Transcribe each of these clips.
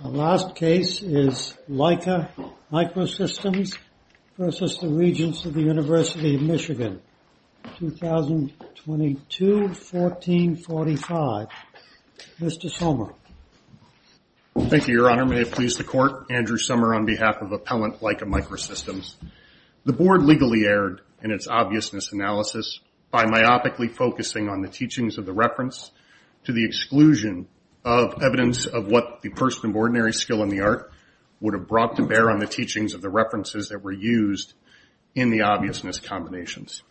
The last case is Leica Microsystems v. Regents of the University of Michigan, 2022-1445. Mr. Sommer. Thank you, Your Honor. May it please the Court, Andrew Sommer on behalf of Appellant Leica Microsystems. The Board legally erred in its obviousness analysis by myopically focusing on the teachings of the reference to the exclusion of evidence of what the person of ordinary skill in the art would have brought to bear on the teachings of the references that were used in the obviousness combinations.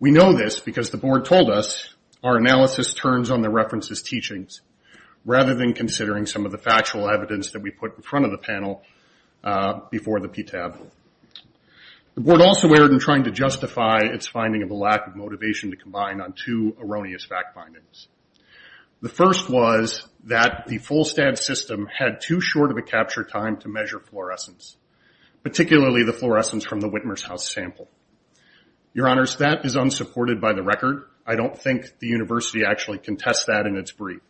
We know this because the Board told us our analysis turns on the references' teachings rather than considering some of the factual evidence that we put in front of the panel before the PTAB. The Board also erred in trying to justify its finding of a lack of motivation to combine on two erroneous fact findings. The first was that the full-stance system had too short of a capture time to measure fluorescence, particularly the fluorescence from the Whitmer's House sample. Your Honors, that is unsupported by the record. I don't think the University actually can test that in its brief.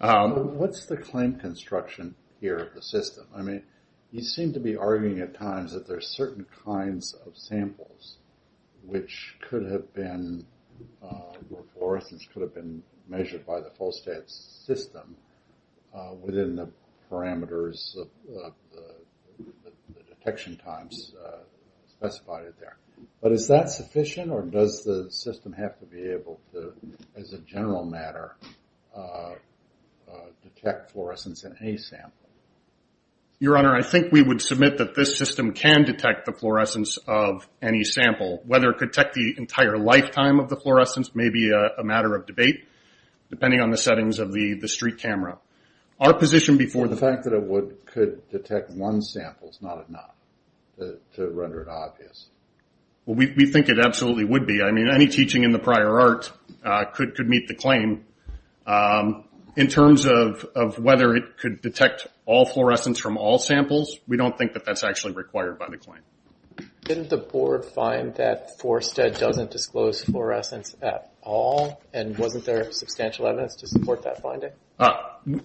What's the claim construction here of the system? I mean, you seem to be arguing at times that there's certain kinds of samples which could have been, where fluorescence could have been measured by the full-stance system within the parameters of the detection times specified there. But is that sufficient, or does the system have to be able to, as a general matter, detect fluorescence in any sample? Your Honor, I think we would submit that this system can detect the fluorescence of any sample. Whether it could detect the entire lifetime of the fluorescence may be a matter of debate, depending on the settings of the street camera. Our position before the... The fact that it could detect one sample is not enough to render it obvious. Well, we think it absolutely would be. I mean, any teaching in the prior art could meet the claim. In terms of whether it could detect all fluorescence from all samples, we don't think that that's actually required by the claim. Didn't the board find that Fulstead doesn't disclose fluorescence at all, and wasn't there substantial evidence to support that finding?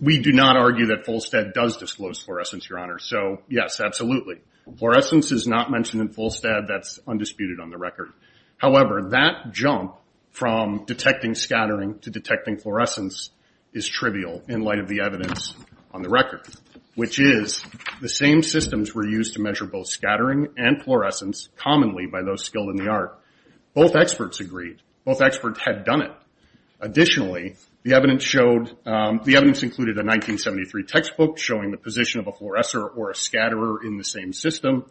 We do not argue that Fulstead does disclose fluorescence, Your Honor. So, yes, absolutely. Fluorescence is not mentioned in Fulstead. That's undisputed on the record. However, that jump from detecting scattering to detecting fluorescence is trivial in light of the evidence on the record, which is the same systems were used to measure both scattering and fluorescence commonly by those skilled in the art. Both experts agreed. Both experts had done it. Additionally, the evidence showed... The evidence included a 1973 textbook showing the position of a fluorescer or a scatterer in the same system.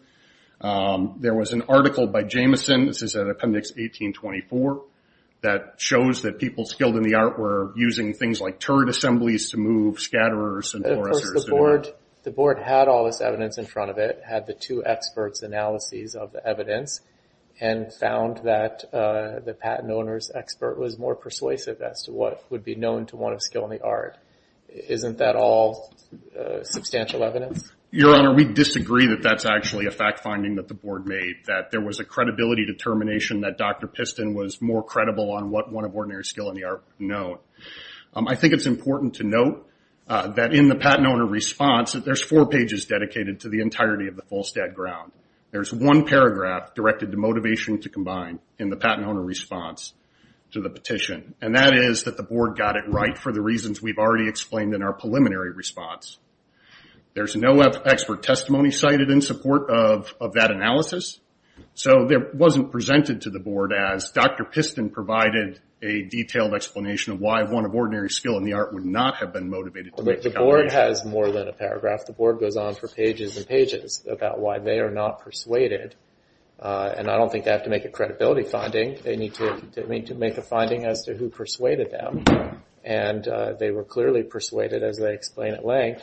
There was an article by Jameson, this is at Appendix 1824, that shows that people skilled in the art were using things like turret assemblies to move scatterers and fluorescers. Of course, the board had all this evidence in front of it, had the two experts' analyses of the evidence, and found that the patent owner's expert was more persuasive as to what would be known to one of skilled in the art. Isn't that all substantial evidence? Your Honor, we disagree that that's a fact finding that the board made, that there was a credibility determination that Dr. Piston was more credible on what one of ordinary skilled in the art would know. I think it's important to note that in the patent owner response, there's four pages dedicated to the entirety of the Fulstead ground. There's one paragraph directed to motivation to combine in the patent owner response to the petition. That is that the board got it right for the reasons we've already explained in our report of that analysis. It wasn't presented to the board as Dr. Piston provided a detailed explanation of why one of ordinary skilled in the art would not have been motivated. The board has more than a paragraph. The board goes on for pages and pages about why they are not persuaded. I don't think they have to make a credibility finding. They need to make a finding as to who persuaded them. They were clearly persuaded, as they explain at length,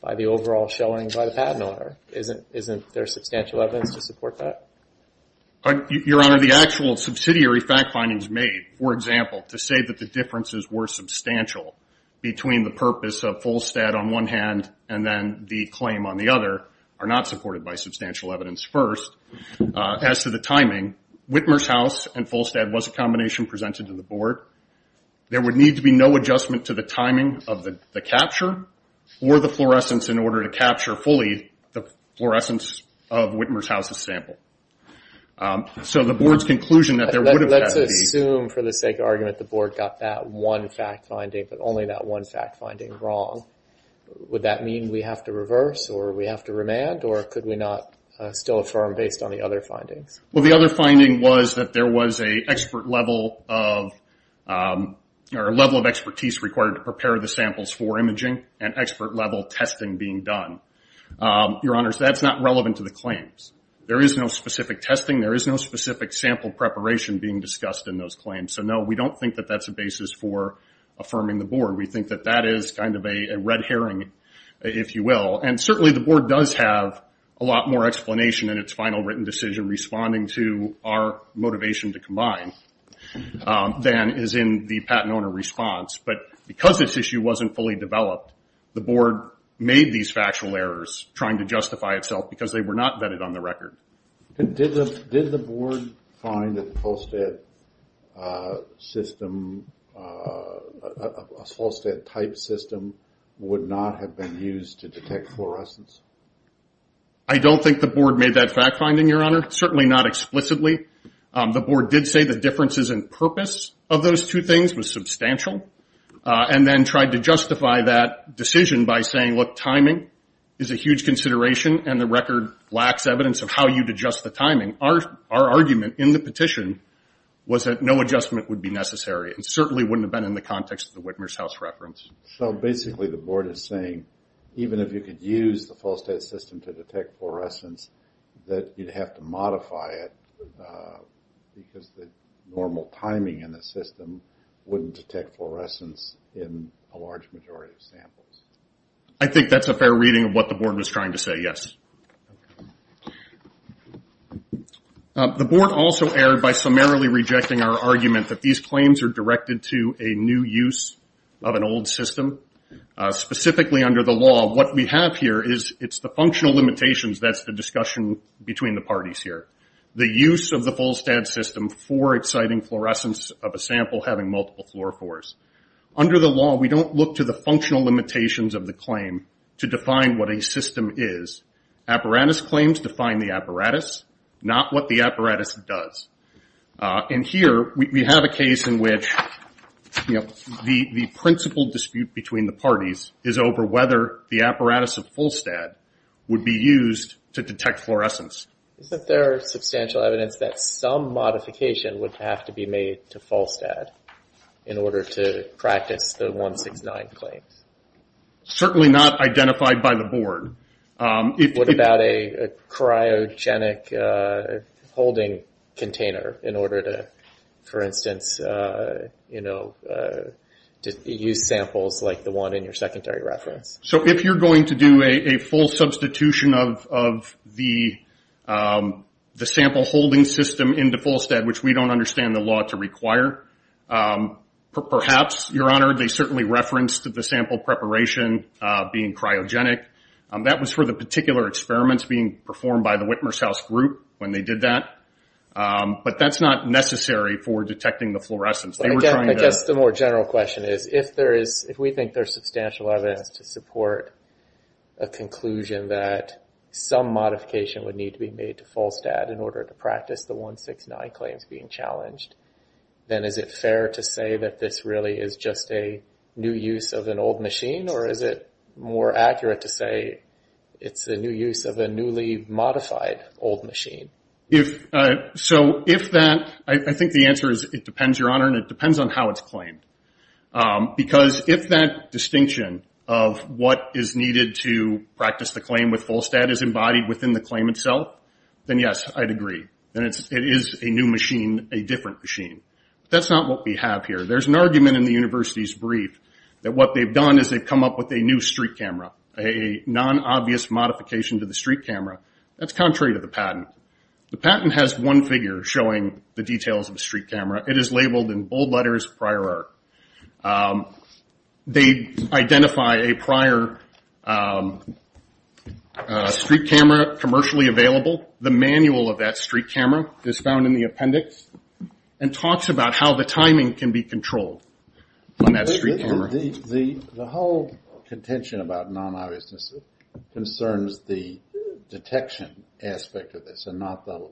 by the patent owner. Isn't there substantial evidence to support that? Your Honor, the actual subsidiary fact findings made, for example, to say that the differences were substantial between the purpose of Fulstead on one hand and then the claim on the other are not supported by substantial evidence first. As to the timing, Whitmer's house and Fulstead was a combination presented to the board. There would need to be no adjustment to the timing of the capture fully of the fluorescence of Whitmer's house's sample. So the board's conclusion that there would have had to be... Let's assume, for the sake of argument, the board got that one fact finding, but only that one fact finding, wrong. Would that mean we have to reverse or we have to remand or could we not still affirm based on the other findings? Well, the other finding was that there was a level of expertise required to prepare the Your Honor, that's not relevant to the claims. There is no specific testing. There is no specific sample preparation being discussed in those claims. So no, we don't think that that's a basis for affirming the board. We think that that is kind of a red herring, if you will. And certainly the board does have a lot more explanation in its final written decision responding to our motivation to combine than is in the patent owner response. But because this issue wasn't fully developed, the board made these factual errors trying to justify itself because they were not vetted on the record. Did the board find that the Fulstead system, a Fulstead type system would not have been used to detect fluorescence? I don't think the board made that fact finding, Your Honor. Certainly not explicitly. The board did say the differences in purpose of those two things was substantial and then tried to justify that decision by saying, look, timing is a huge consideration and the record lacks evidence of how you'd adjust the timing. Our argument in the petition was that no adjustment would be necessary. It certainly wouldn't have been in the context of the Whitmer's House reference. So basically the board is saying, even if you could use the Fulstead system to detect fluorescence, that you'd have to modify it because the normal timing in the system wouldn't detect fluorescence in a large majority of samples. I think that's a fair reading of what the board was trying to say, yes. The board also erred by summarily rejecting our argument that these claims are directed to a new use of an old system. Specifically under the law, what we have here is the functional limitations that's the discussion between the parties here. The use of the Fulstead system for exciting fluorescence of a sample having multiple fluorophores. Under the law, we don't look to the functional limitations of the claim to define what a system is. Apparatus claims define the apparatus, not what the apparatus does. And here we have a case in which the principal dispute between the parties is over whether the apparatus of Fulstead would be used to detect fluorescence. Is there substantial evidence that some modification would have to be made to Fulstead in order to practice the 169 claims? Certainly not identified by the board. What about a cryogenic holding container in order to, for instance, use samples like the one in your secondary reference? If you're going to do a full substitution of the sample holding system into Fulstead, which we don't understand the law to require, perhaps, your honor, they certainly referenced the sample preparation being cryogenic. That was for the particular experiments being performed by the Whitmer's House group when they did that. But that's not necessary for detecting the fluorescence. I guess the more general question is, if we think there's substantial evidence to support a conclusion that some modification would need to be made to Fulstead in order to practice the 169 claims being challenged, then is it fair to say that this really is just a new use of an old machine? Or is it more accurate to say it's a new use of a newly modified old machine? If so, I think the answer is it depends, your honor, and it depends on how it's claimed. Because if that distinction of what is needed to practice the claim with Fulstead is embodied within the claim itself, then yes, I'd agree. It is a new machine, a different machine. But that's not what we have here. There's an argument in the university's brief that what they've done is they've come up with a new street camera, a non-obvious modification to the street camera. That's contrary to the patent. The patent has one figure showing the details of a street camera. It is labeled in bold letters prior art. They identify a prior street camera commercially available. The manual of that street camera is found in the appendix and talks about how the timing can be controlled on that street camera. The whole contention about non-obviousness concerns the detection aspect of this and not the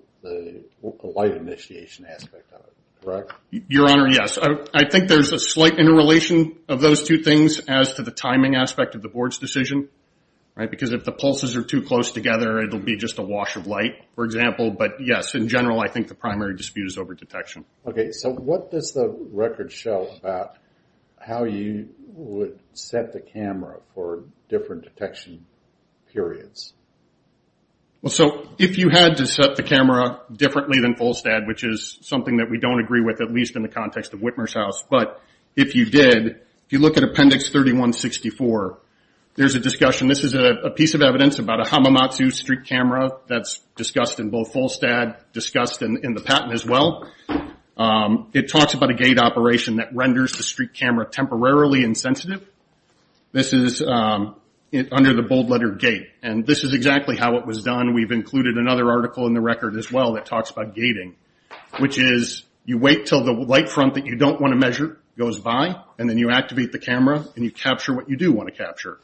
light initiation aspect of it, correct? Your honor, yes. I think there's a slight interrelation of those two things as to the timing aspect of the board's decision. Because if the pulses are too close together, it'll be just a wash of light, for example. But yes, in general, I think the primary dispute is over detection. Okay. So what does the record show about how you would set the camera for different detection periods? Well, so if you had to set the camera differently than Fulstad, which is something that we don't agree with, at least in the context of Whitmer's House. But if you did, if you look at appendix 3164, there's a discussion. This is a piece of evidence about a Hamamatsu street camera that's discussed in both Fulstad, discussed in the patent as well. It talks about a gate operation that renders the street camera temporarily insensitive. This is under the bold letter gate. And this is exactly how it was done. We've included another article in the record as well that talks about gating, which is you wait until the light front that you don't want to measure goes by, and then you activate the camera and you capture what you do want to capture.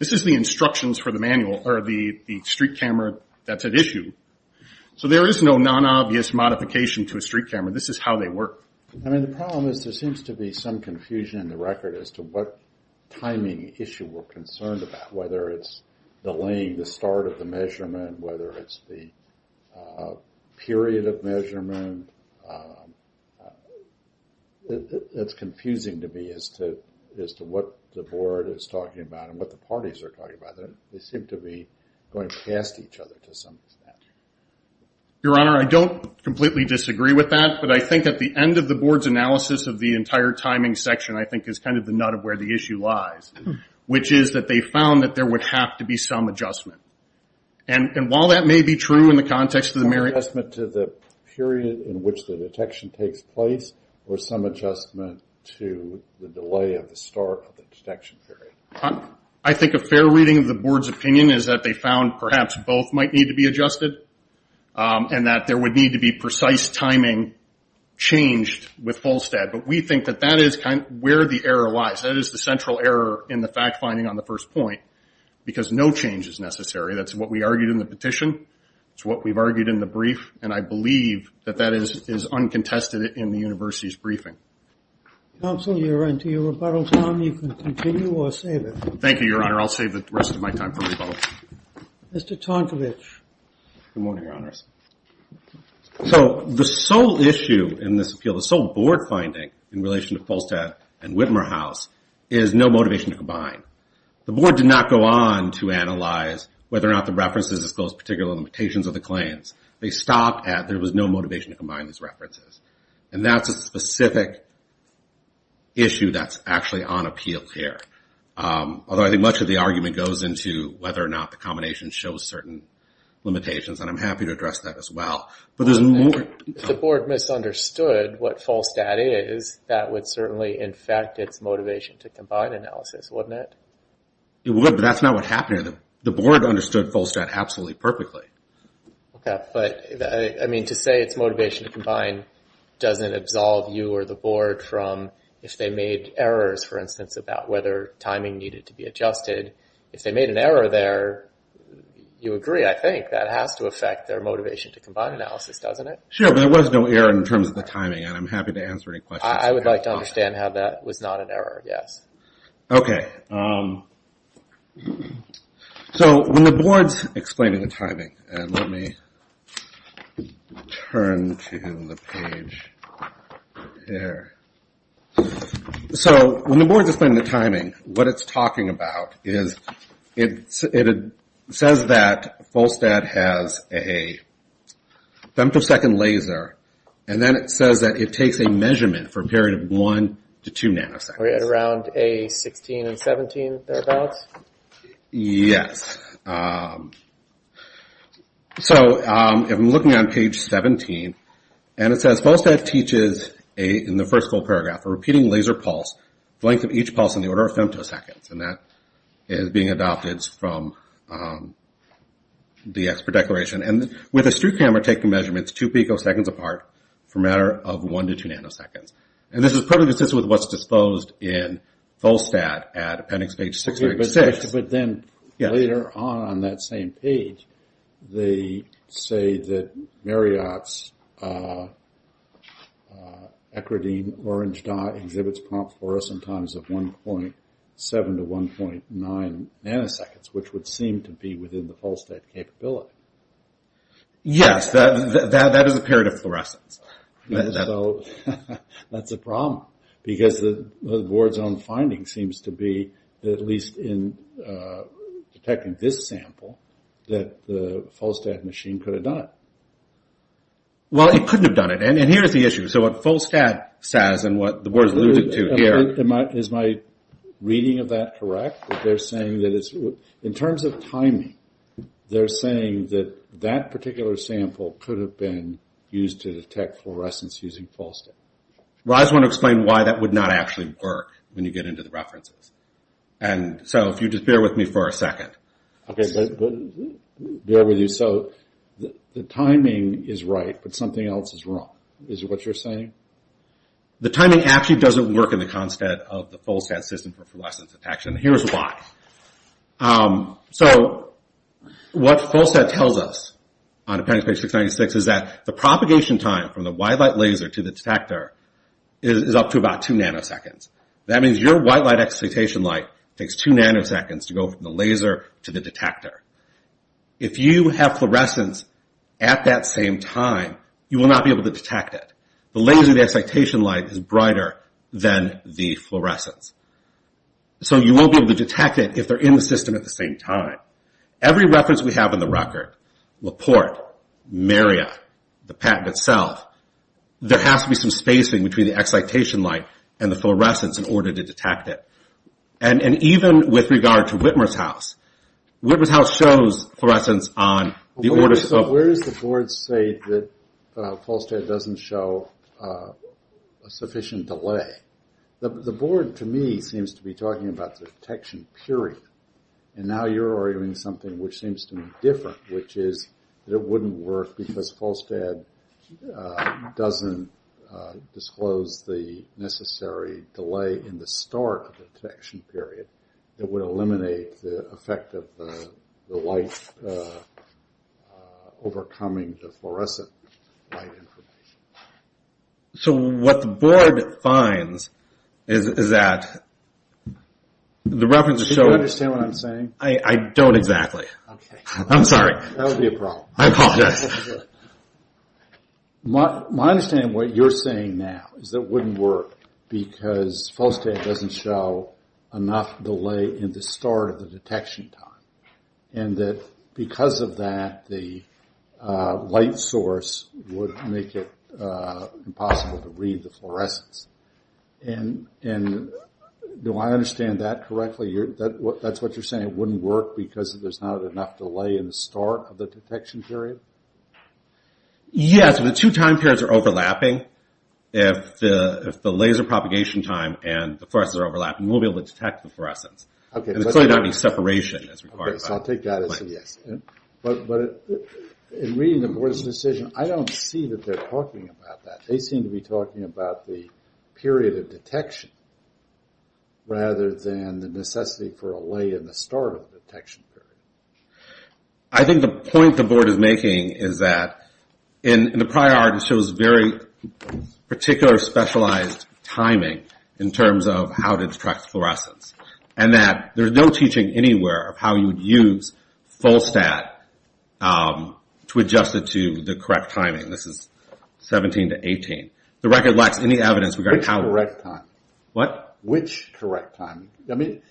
This is the instructions for the manual, or the street camera that's at issue. So there is no non-obvious modification to a street camera. This is how they work. I mean, the problem is there seems to be some confusion in the record as to what timing issue we're concerned about, whether it's delaying the start of the measurement, whether it's the period of measurement. It's confusing to me as to what the board is talking about and what the parties are talking about. They seem to be going past each other to some extent. Your Honor, I don't completely disagree with that, but I think at the end of the board's analysis of the entire timing section, I think is kind of the nut of where the issue lies, which is that they found that there would have to be some adjustment. And while that may be true in the context of the merit... Adjustment to the period in which the detection takes place or some adjustment to the delay of the start of the detection period? I think a fair reading of the board's opinion is that they found perhaps both might need to be adjusted and that there would need to be precise timing changed with Fulstad. But we think that that is kind of where the error lies. That is the central error in the fact finding on the first point, because no change is necessary. That's what we argued in the petition. It's what we've argued in the brief. And I believe that that is uncontested in the university's briefing. Counsel, you're onto your rebuttal time. You can continue or save it. Thank you, Your Honor. I'll save the rest of my time for rebuttal. Mr. Tonkovich. Good morning, Your Honors. So the sole issue in this appeal, the sole board finding in relation to Fulstad and Whitmer House is no motivation to combine. The board did not go on to analyze whether or not the references disclosed particular limitations of the claims. They stopped at there was no motivation to combine these references. And that's a specific issue that's actually on appeal here. Although I think much of the argument goes into whether or not the combination shows certain limitations. And I'm happy to address that as well. But there's more. If the board misunderstood what Fulstad is, that would certainly in fact, its motivation to combine analysis, wouldn't it? It would, but that's not what happened here. The board understood Fulstad absolutely perfectly. Okay. But I mean, to say it's motivation to combine doesn't absolve you or the board from if they made errors, for instance, about whether timing needed to be adjusted. If they made an error there, you agree, I think that has to affect their motivation to combine analysis, doesn't it? Sure. There was no error in terms of the timing and I'm happy to answer any questions. I would like to understand how that was not an error. Yes. Okay. So when the board is explaining the timing, what it's talking about is it says that Fulstad has a femtosecond laser and then it says that it takes a measurement for a period of one to two nanoseconds. Are we at around a 16 and 17 thereabouts? Yes. So if I'm looking on page 17, and it says Fulstad teaches in the first full paragraph, a repeating laser pulse, the length of each pulse in the order of femtoseconds, and that is being adopted from the expert declaration, and with a street camera taking measurements two picoseconds apart for a matter of one to two nanoseconds. And this is perfectly consistent with what's disclosed in Fulstad at appendix page 636. But then later on on that same page, they say that Marriott's Ecrodim orange dot exhibits prompt fluorescent times of 1.7 to 1.9 nanoseconds, which would seem to be within the Fulstad capability. Yes, that is a period of fluorescence. So that's a problem, because the board's own finding seems to be that at least in detecting this sample, that the Fulstad machine could have done it. Well, it couldn't have done it. And here's the issue. So what Fulstad says and what the board's alluding to here... Is my reading of that correct? That they're saying that it's... In terms of timing, they're saying that that particular sample could have been used to detect fluorescence using Fulstad. Well, I just want to explain why that would not actually work when you get into the references. And so if you just bear with me for a second... Okay, bear with you. So the timing is right, but something else is wrong. Is that what you're saying? The timing actually doesn't work in the context of the Fulstad system for fluorescence detection. Here's why. So what Fulstad tells us on appendix page 696 is that the propagation time from the white light laser to the detector is up to about two nanoseconds. That means your white light excitation light takes two nanoseconds to go from the laser to the detector. If you have fluorescence at that same time, you will not be able to detect it. The laser excitation light is brighter than the fluorescence. So you won't be able to detect it if they're in the system at the same time. Every reference we have in the record, Laporte, Marriott, the patent itself, there has to be some spacing between the excitation light and the fluorescence in order to detect it. And even with regard to Whitmer's house, Whitmer's house shows fluorescence on the order of... So where does the board say that Fulstad doesn't show a sufficient delay? The board, to me, seems to be talking about the detection period. And now you're arguing something which seems to be different, which is that it wouldn't work because Fulstad doesn't disclose the necessary delay in the start of the detection period that would eliminate the effect of the light overcoming the fluorescent light information. So what the board finds is that... Do you understand what I'm saying? I don't exactly. I'm sorry. That would be a problem. I apologize. My understanding of what you're saying now is that it wouldn't work because Fulstad doesn't show enough delay in the start of the detection time. And that because of that, the light source would make it impossible to read the fluorescence. And do I understand that correctly? That's what you're saying. It wouldn't work because there's not enough delay in the start of the detection period? Yes. The two time periods are overlapping. If the laser propagation time and the fluorescence are overlapping, we'll be able to detect the fluorescence. There's clearly not any separation that's required. Okay. So I'll take that as a yes. But in reading the board's decision, I don't see that they're talking about that. They seem to be talking about the period of detection rather than the necessity for a delay in the start of the detection period. I think the point the board is making is that in the prior art, it shows very particular specialized timing in terms of how to detect fluorescence. And that there's no teaching anywhere of how you would use Fulstad to adjust it to the correct timing. This is 17 to 18. The record lacks any evidence regarding how... Which correct timing? What? Which correct timing? I mean,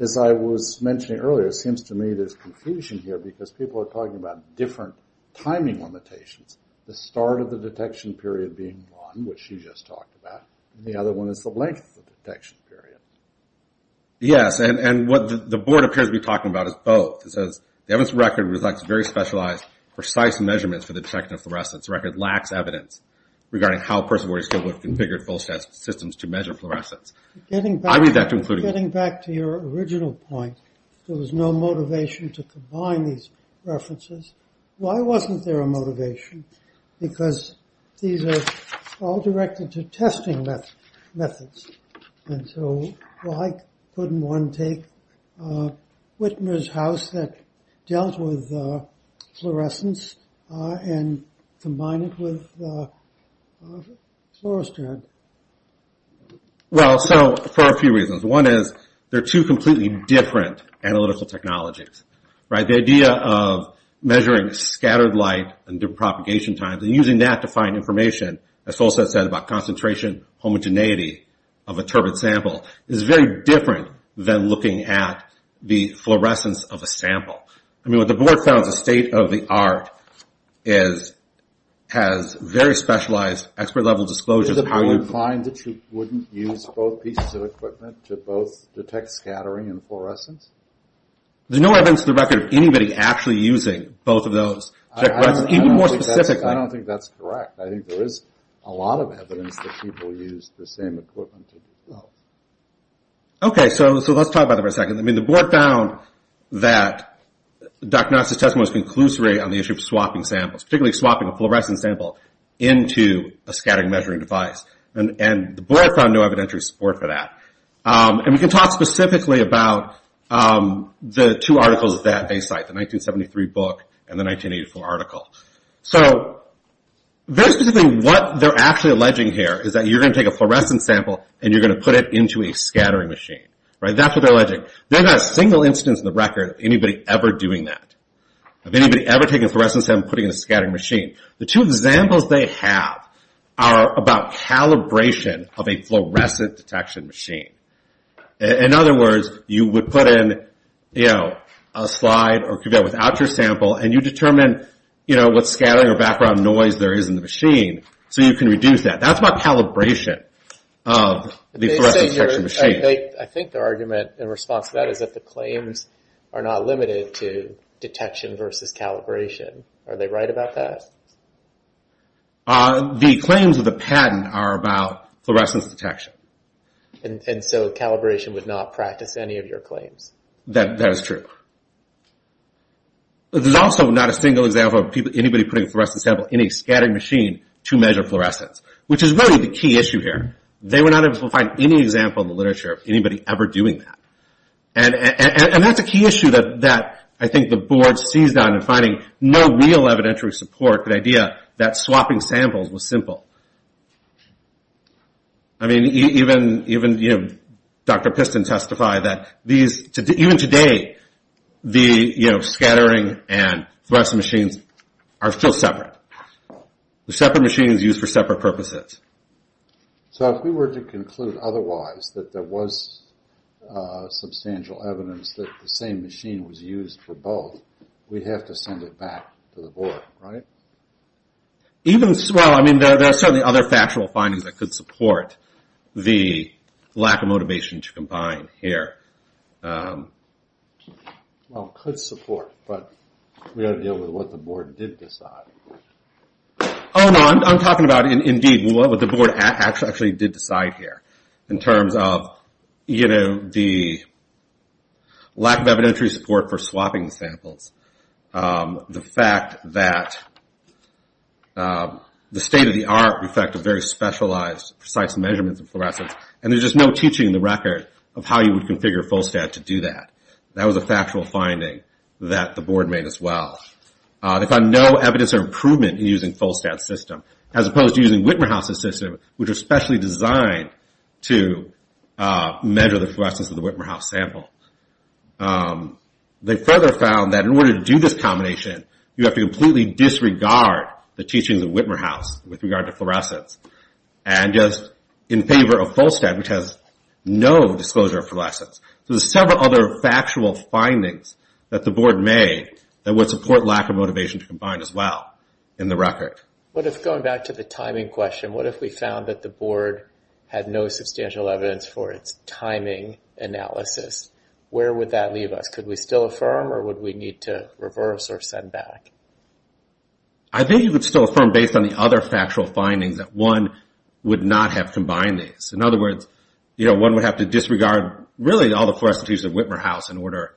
as I was mentioning earlier, it seems to me there's confusion here because people are talking about different timing limitations. The start of the detection period being one, which you just talked about, and the other one is the length of the detection period. Yes. And what the board appears to be talking about is both. It says, the evidence record reflects very specialized, precise measurements for the detection of fluorescence. The record lacks evidence regarding how Perseverance still would have configured Fulstad's systems to measure fluorescence. I read that to include... Getting back to your original point, there was no motivation to combine these references. Why wasn't there a motivation? Because these are all directed to testing methods. And so, why couldn't one take Whitmer's house that dealt with fluorescence and combine it with Fluorestand? Well, so, for a few reasons. One is, they're two completely different analytical technologies. The idea of measuring scattered light and their propagation times, and using that to find information, as Fulstad said, about concentration, homogeneity of a turbid sample, is very different than looking at the fluorescence of a sample. I mean, what the board found is a state of the art is, has very specialized, expert-level disclosures... Did the board find that you wouldn't use both pieces of equipment to both detect scattering and fluorescence? There's no evidence to the record of anybody actually using both of those. Even more specifically... I don't think that's correct. I think there is a lot of evidence that people use the same equipment. Okay, so let's talk about that for a second. I mean, the board found that Doc Nox's testimony was conclusory on the issue of swapping samples, particularly swapping a fluorescent sample into a scattering measuring device. And the board found no evidentiary support for that. And we can talk specifically about the two articles that they cite, the 1973 book and the 1984 article. So, very specifically, what they're actually alleging here is that you're going to take a fluorescent sample and you're going to put it into a scattering machine. Right? That's what they're alleging. There's not a single instance in the record of anybody ever doing that, of anybody ever taking a fluorescent sample and putting it in a detection machine. In other words, you would put in a slide or could go without your sample and you determine what scattering or background noise there is in the machine so you can reduce that. That's about calibration of the fluorescent detection machine. I think their argument in response to that is that the claims are not limited to detection versus calibration. Are they right about that? The claims of the patent are about fluorescence detection. And so calibration would not practice any of your claims? That is true. There's also not a single example of anybody putting a fluorescent sample in a scattering machine to measure fluorescence, which is really the key issue here. They were not able to find any example in the literature of anybody ever doing that. And that's a key issue that I think the board seized on in providing no real evidentiary support, the idea that swapping samples was simple. I mean, even Dr. Piston testified that even today, the scattering and fluorescent machines are still separate. The separate machine is used for separate purposes. So if we were to conclude otherwise, that there was substantial evidence that the same machine was used for both, we'd have to send it back to the board, right? Well, I mean, there are certainly other factual findings that could support the lack of motivation to combine here. Well, could support, but we've got to deal with what the board did decide. Oh, no, I'm talking about indeed what the board actually did decide here in terms of the lack of evidentiary support for swapping samples. The fact that the state-of-the-art, in fact, of very specialized, precise measurements of fluorescence, and there's just no teaching in the record of how you would configure FullSTAT to do that. That was a factual finding that the board made as well. They found no evidence of improvement in using FullSTAT's system, as opposed to using Wittmerhaus' system, which was specially designed to measure the fluorescence of the Wittmerhaus sample. They further found that in order to do this combination, you have to completely disregard the teachings of Wittmerhaus with regard to fluorescence, and just in favor of FullSTAT, which has no disclosure of fluorescence. So there's several other factual findings that the board made that would support lack of motivation to combine as well in the record. What if, going back to the timing question, what if we found that the board had no substantial evidence for its timing analysis? Where would that leave us? Could we still affirm, or would we need to reverse or send back? I think you could still affirm based on the other factual findings that one would not have combined these. In other words, one would have to disregard, really, all the questions of Wittmerhaus in order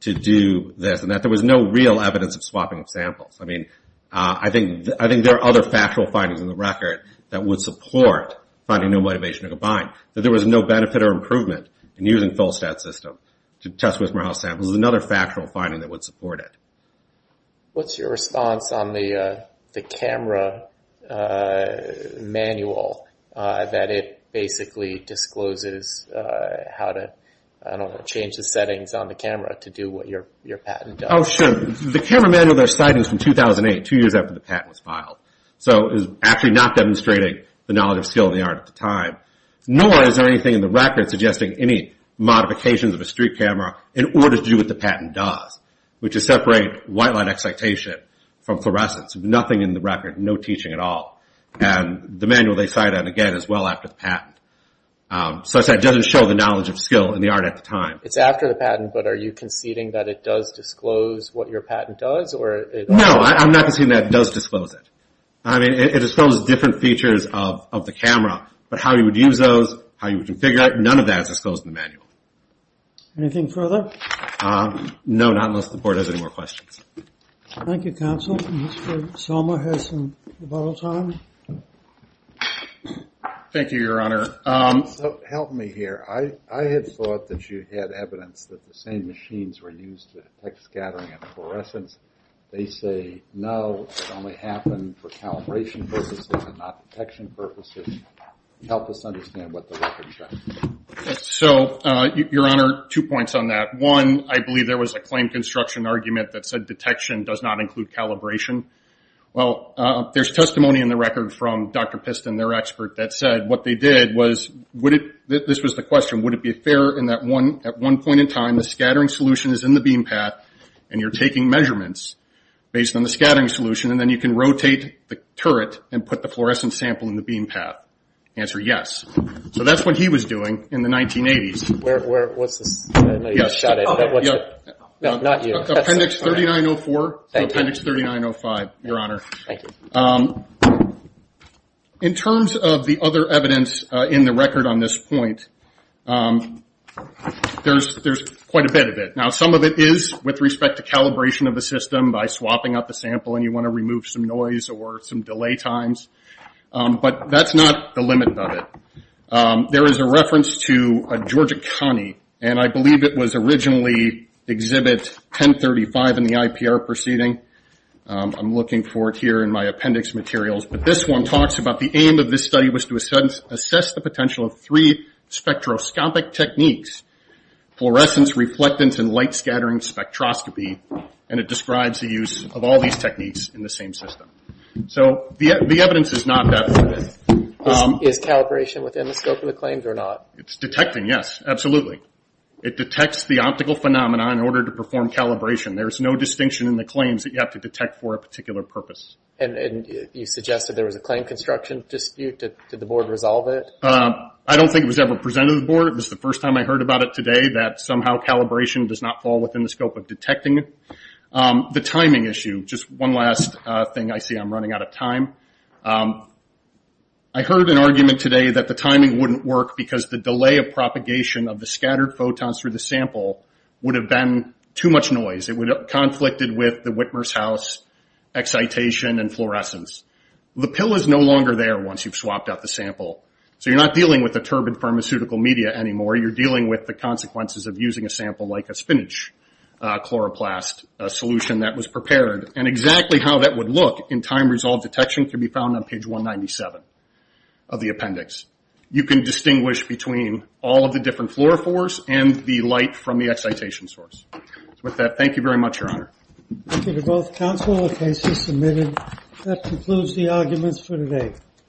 to do this, and that there was no real evidence of swapping of samples. I think there are other factual findings in the record that would support finding no motivation to combine. That there was no benefit or improvement in using FullSTAT's system to test Wittmerhaus samples is another factual finding that would support it. What's your response on the camera manual that it basically discloses how to change the settings on the camera to do what your patent does? Oh, sure. The camera manual that I cited was from 2008, two years after the patent was filed. So it was actually not demonstrating the knowledge and skill of the art at the time. Nor is there anything in the record suggesting any modifications of a street camera in order to do what the patent does, which is separate white light excitation from fluorescence. Nothing in the record, no teaching at all. And the manual they cite, again, is well after the patent. So as I said, it doesn't show the knowledge of skill in the art at the time. It's after the patent, but are you conceding that it does disclose what your patent does? No, I'm not conceding that it does disclose it. I mean, it discloses different features of the camera, but how you would use those, how you would configure it, none of that is disclosed in the manual. Anything further? No, not unless the Board has any more questions. Thank you, Counsel. Mr. Salma has some bottle time. Thank you, Your Honor. Help me here. I had thought that you had evidence that the same machines were used to detect scattering and fluorescence. They say, no, it only happened for calibration purposes and not detection purposes. Help us understand what the record says. So, Your Honor, two points on that. One, I believe there was a claim construction argument that said detection does not include calibration. Well, there's testimony in the record from Dr. Piston, their expert, that said what they did was, this was the question, would it be fair at one point in time, the scattering solution is in the beam path and you're taking measurements based on the scattering solution and then you can rotate the turret and put the fluorescence sample in the beam path? Answer, yes. So that's what he was doing in the 1980s. Where, what's this? I know you shot it, but what's it? Appendix 3904 and Appendix 3905, Your Honor. In terms of the other evidence in the record on this point, there's quite a bit of it. Now, some of it is with respect to calibration of the system by swapping out the sample and you want to remove some noise or some delay times. But that's not the limit of it. There is a reference to a Georgia county, and I believe it was originally exhibit 1035 in the IPR proceeding. I'm looking for it here in my appendix materials. But this one talks about the aim of this study was to assess the potential of three spectroscopic techniques, fluorescence, reflectance, and light scattering spectroscopy. And it describes the use of all these techniques in the same system. So the evidence is not that... Is calibration within the scope of the claims or not? It's detecting, yes. Absolutely. It detects the optical phenomena in order to perform calibration. There's no distinction in the claims that you have to detect for a particular purpose. And you suggested there was a claim construction dispute. Did the board resolve it? I don't think it was ever presented to the board. It was the first time I heard about it today that somehow calibration does not fall within the scope of detecting it. The timing issue. Just one last thing. I see I'm running out of time. I heard an argument today that the timing wouldn't work because the delay of propagation of the scattered photons through the sample would have been too much noise. It would have conflicted with the Whitmer's house excitation and fluorescence. The pill is no longer there once you've swapped out the sample. So you're not dealing with the turbid pharmaceutical media anymore. You're dealing with the consequences of using a sample like a spinach chloroplast solution that was prepared. And exactly how that would look in time-resolved detection can be found on page 197 of the appendix. You can distinguish between all of the different fluorophores and the light from the excitation source. With that, thank you very much, Your Honor. Thank you to both counsel and cases submitted. That concludes the arguments for today.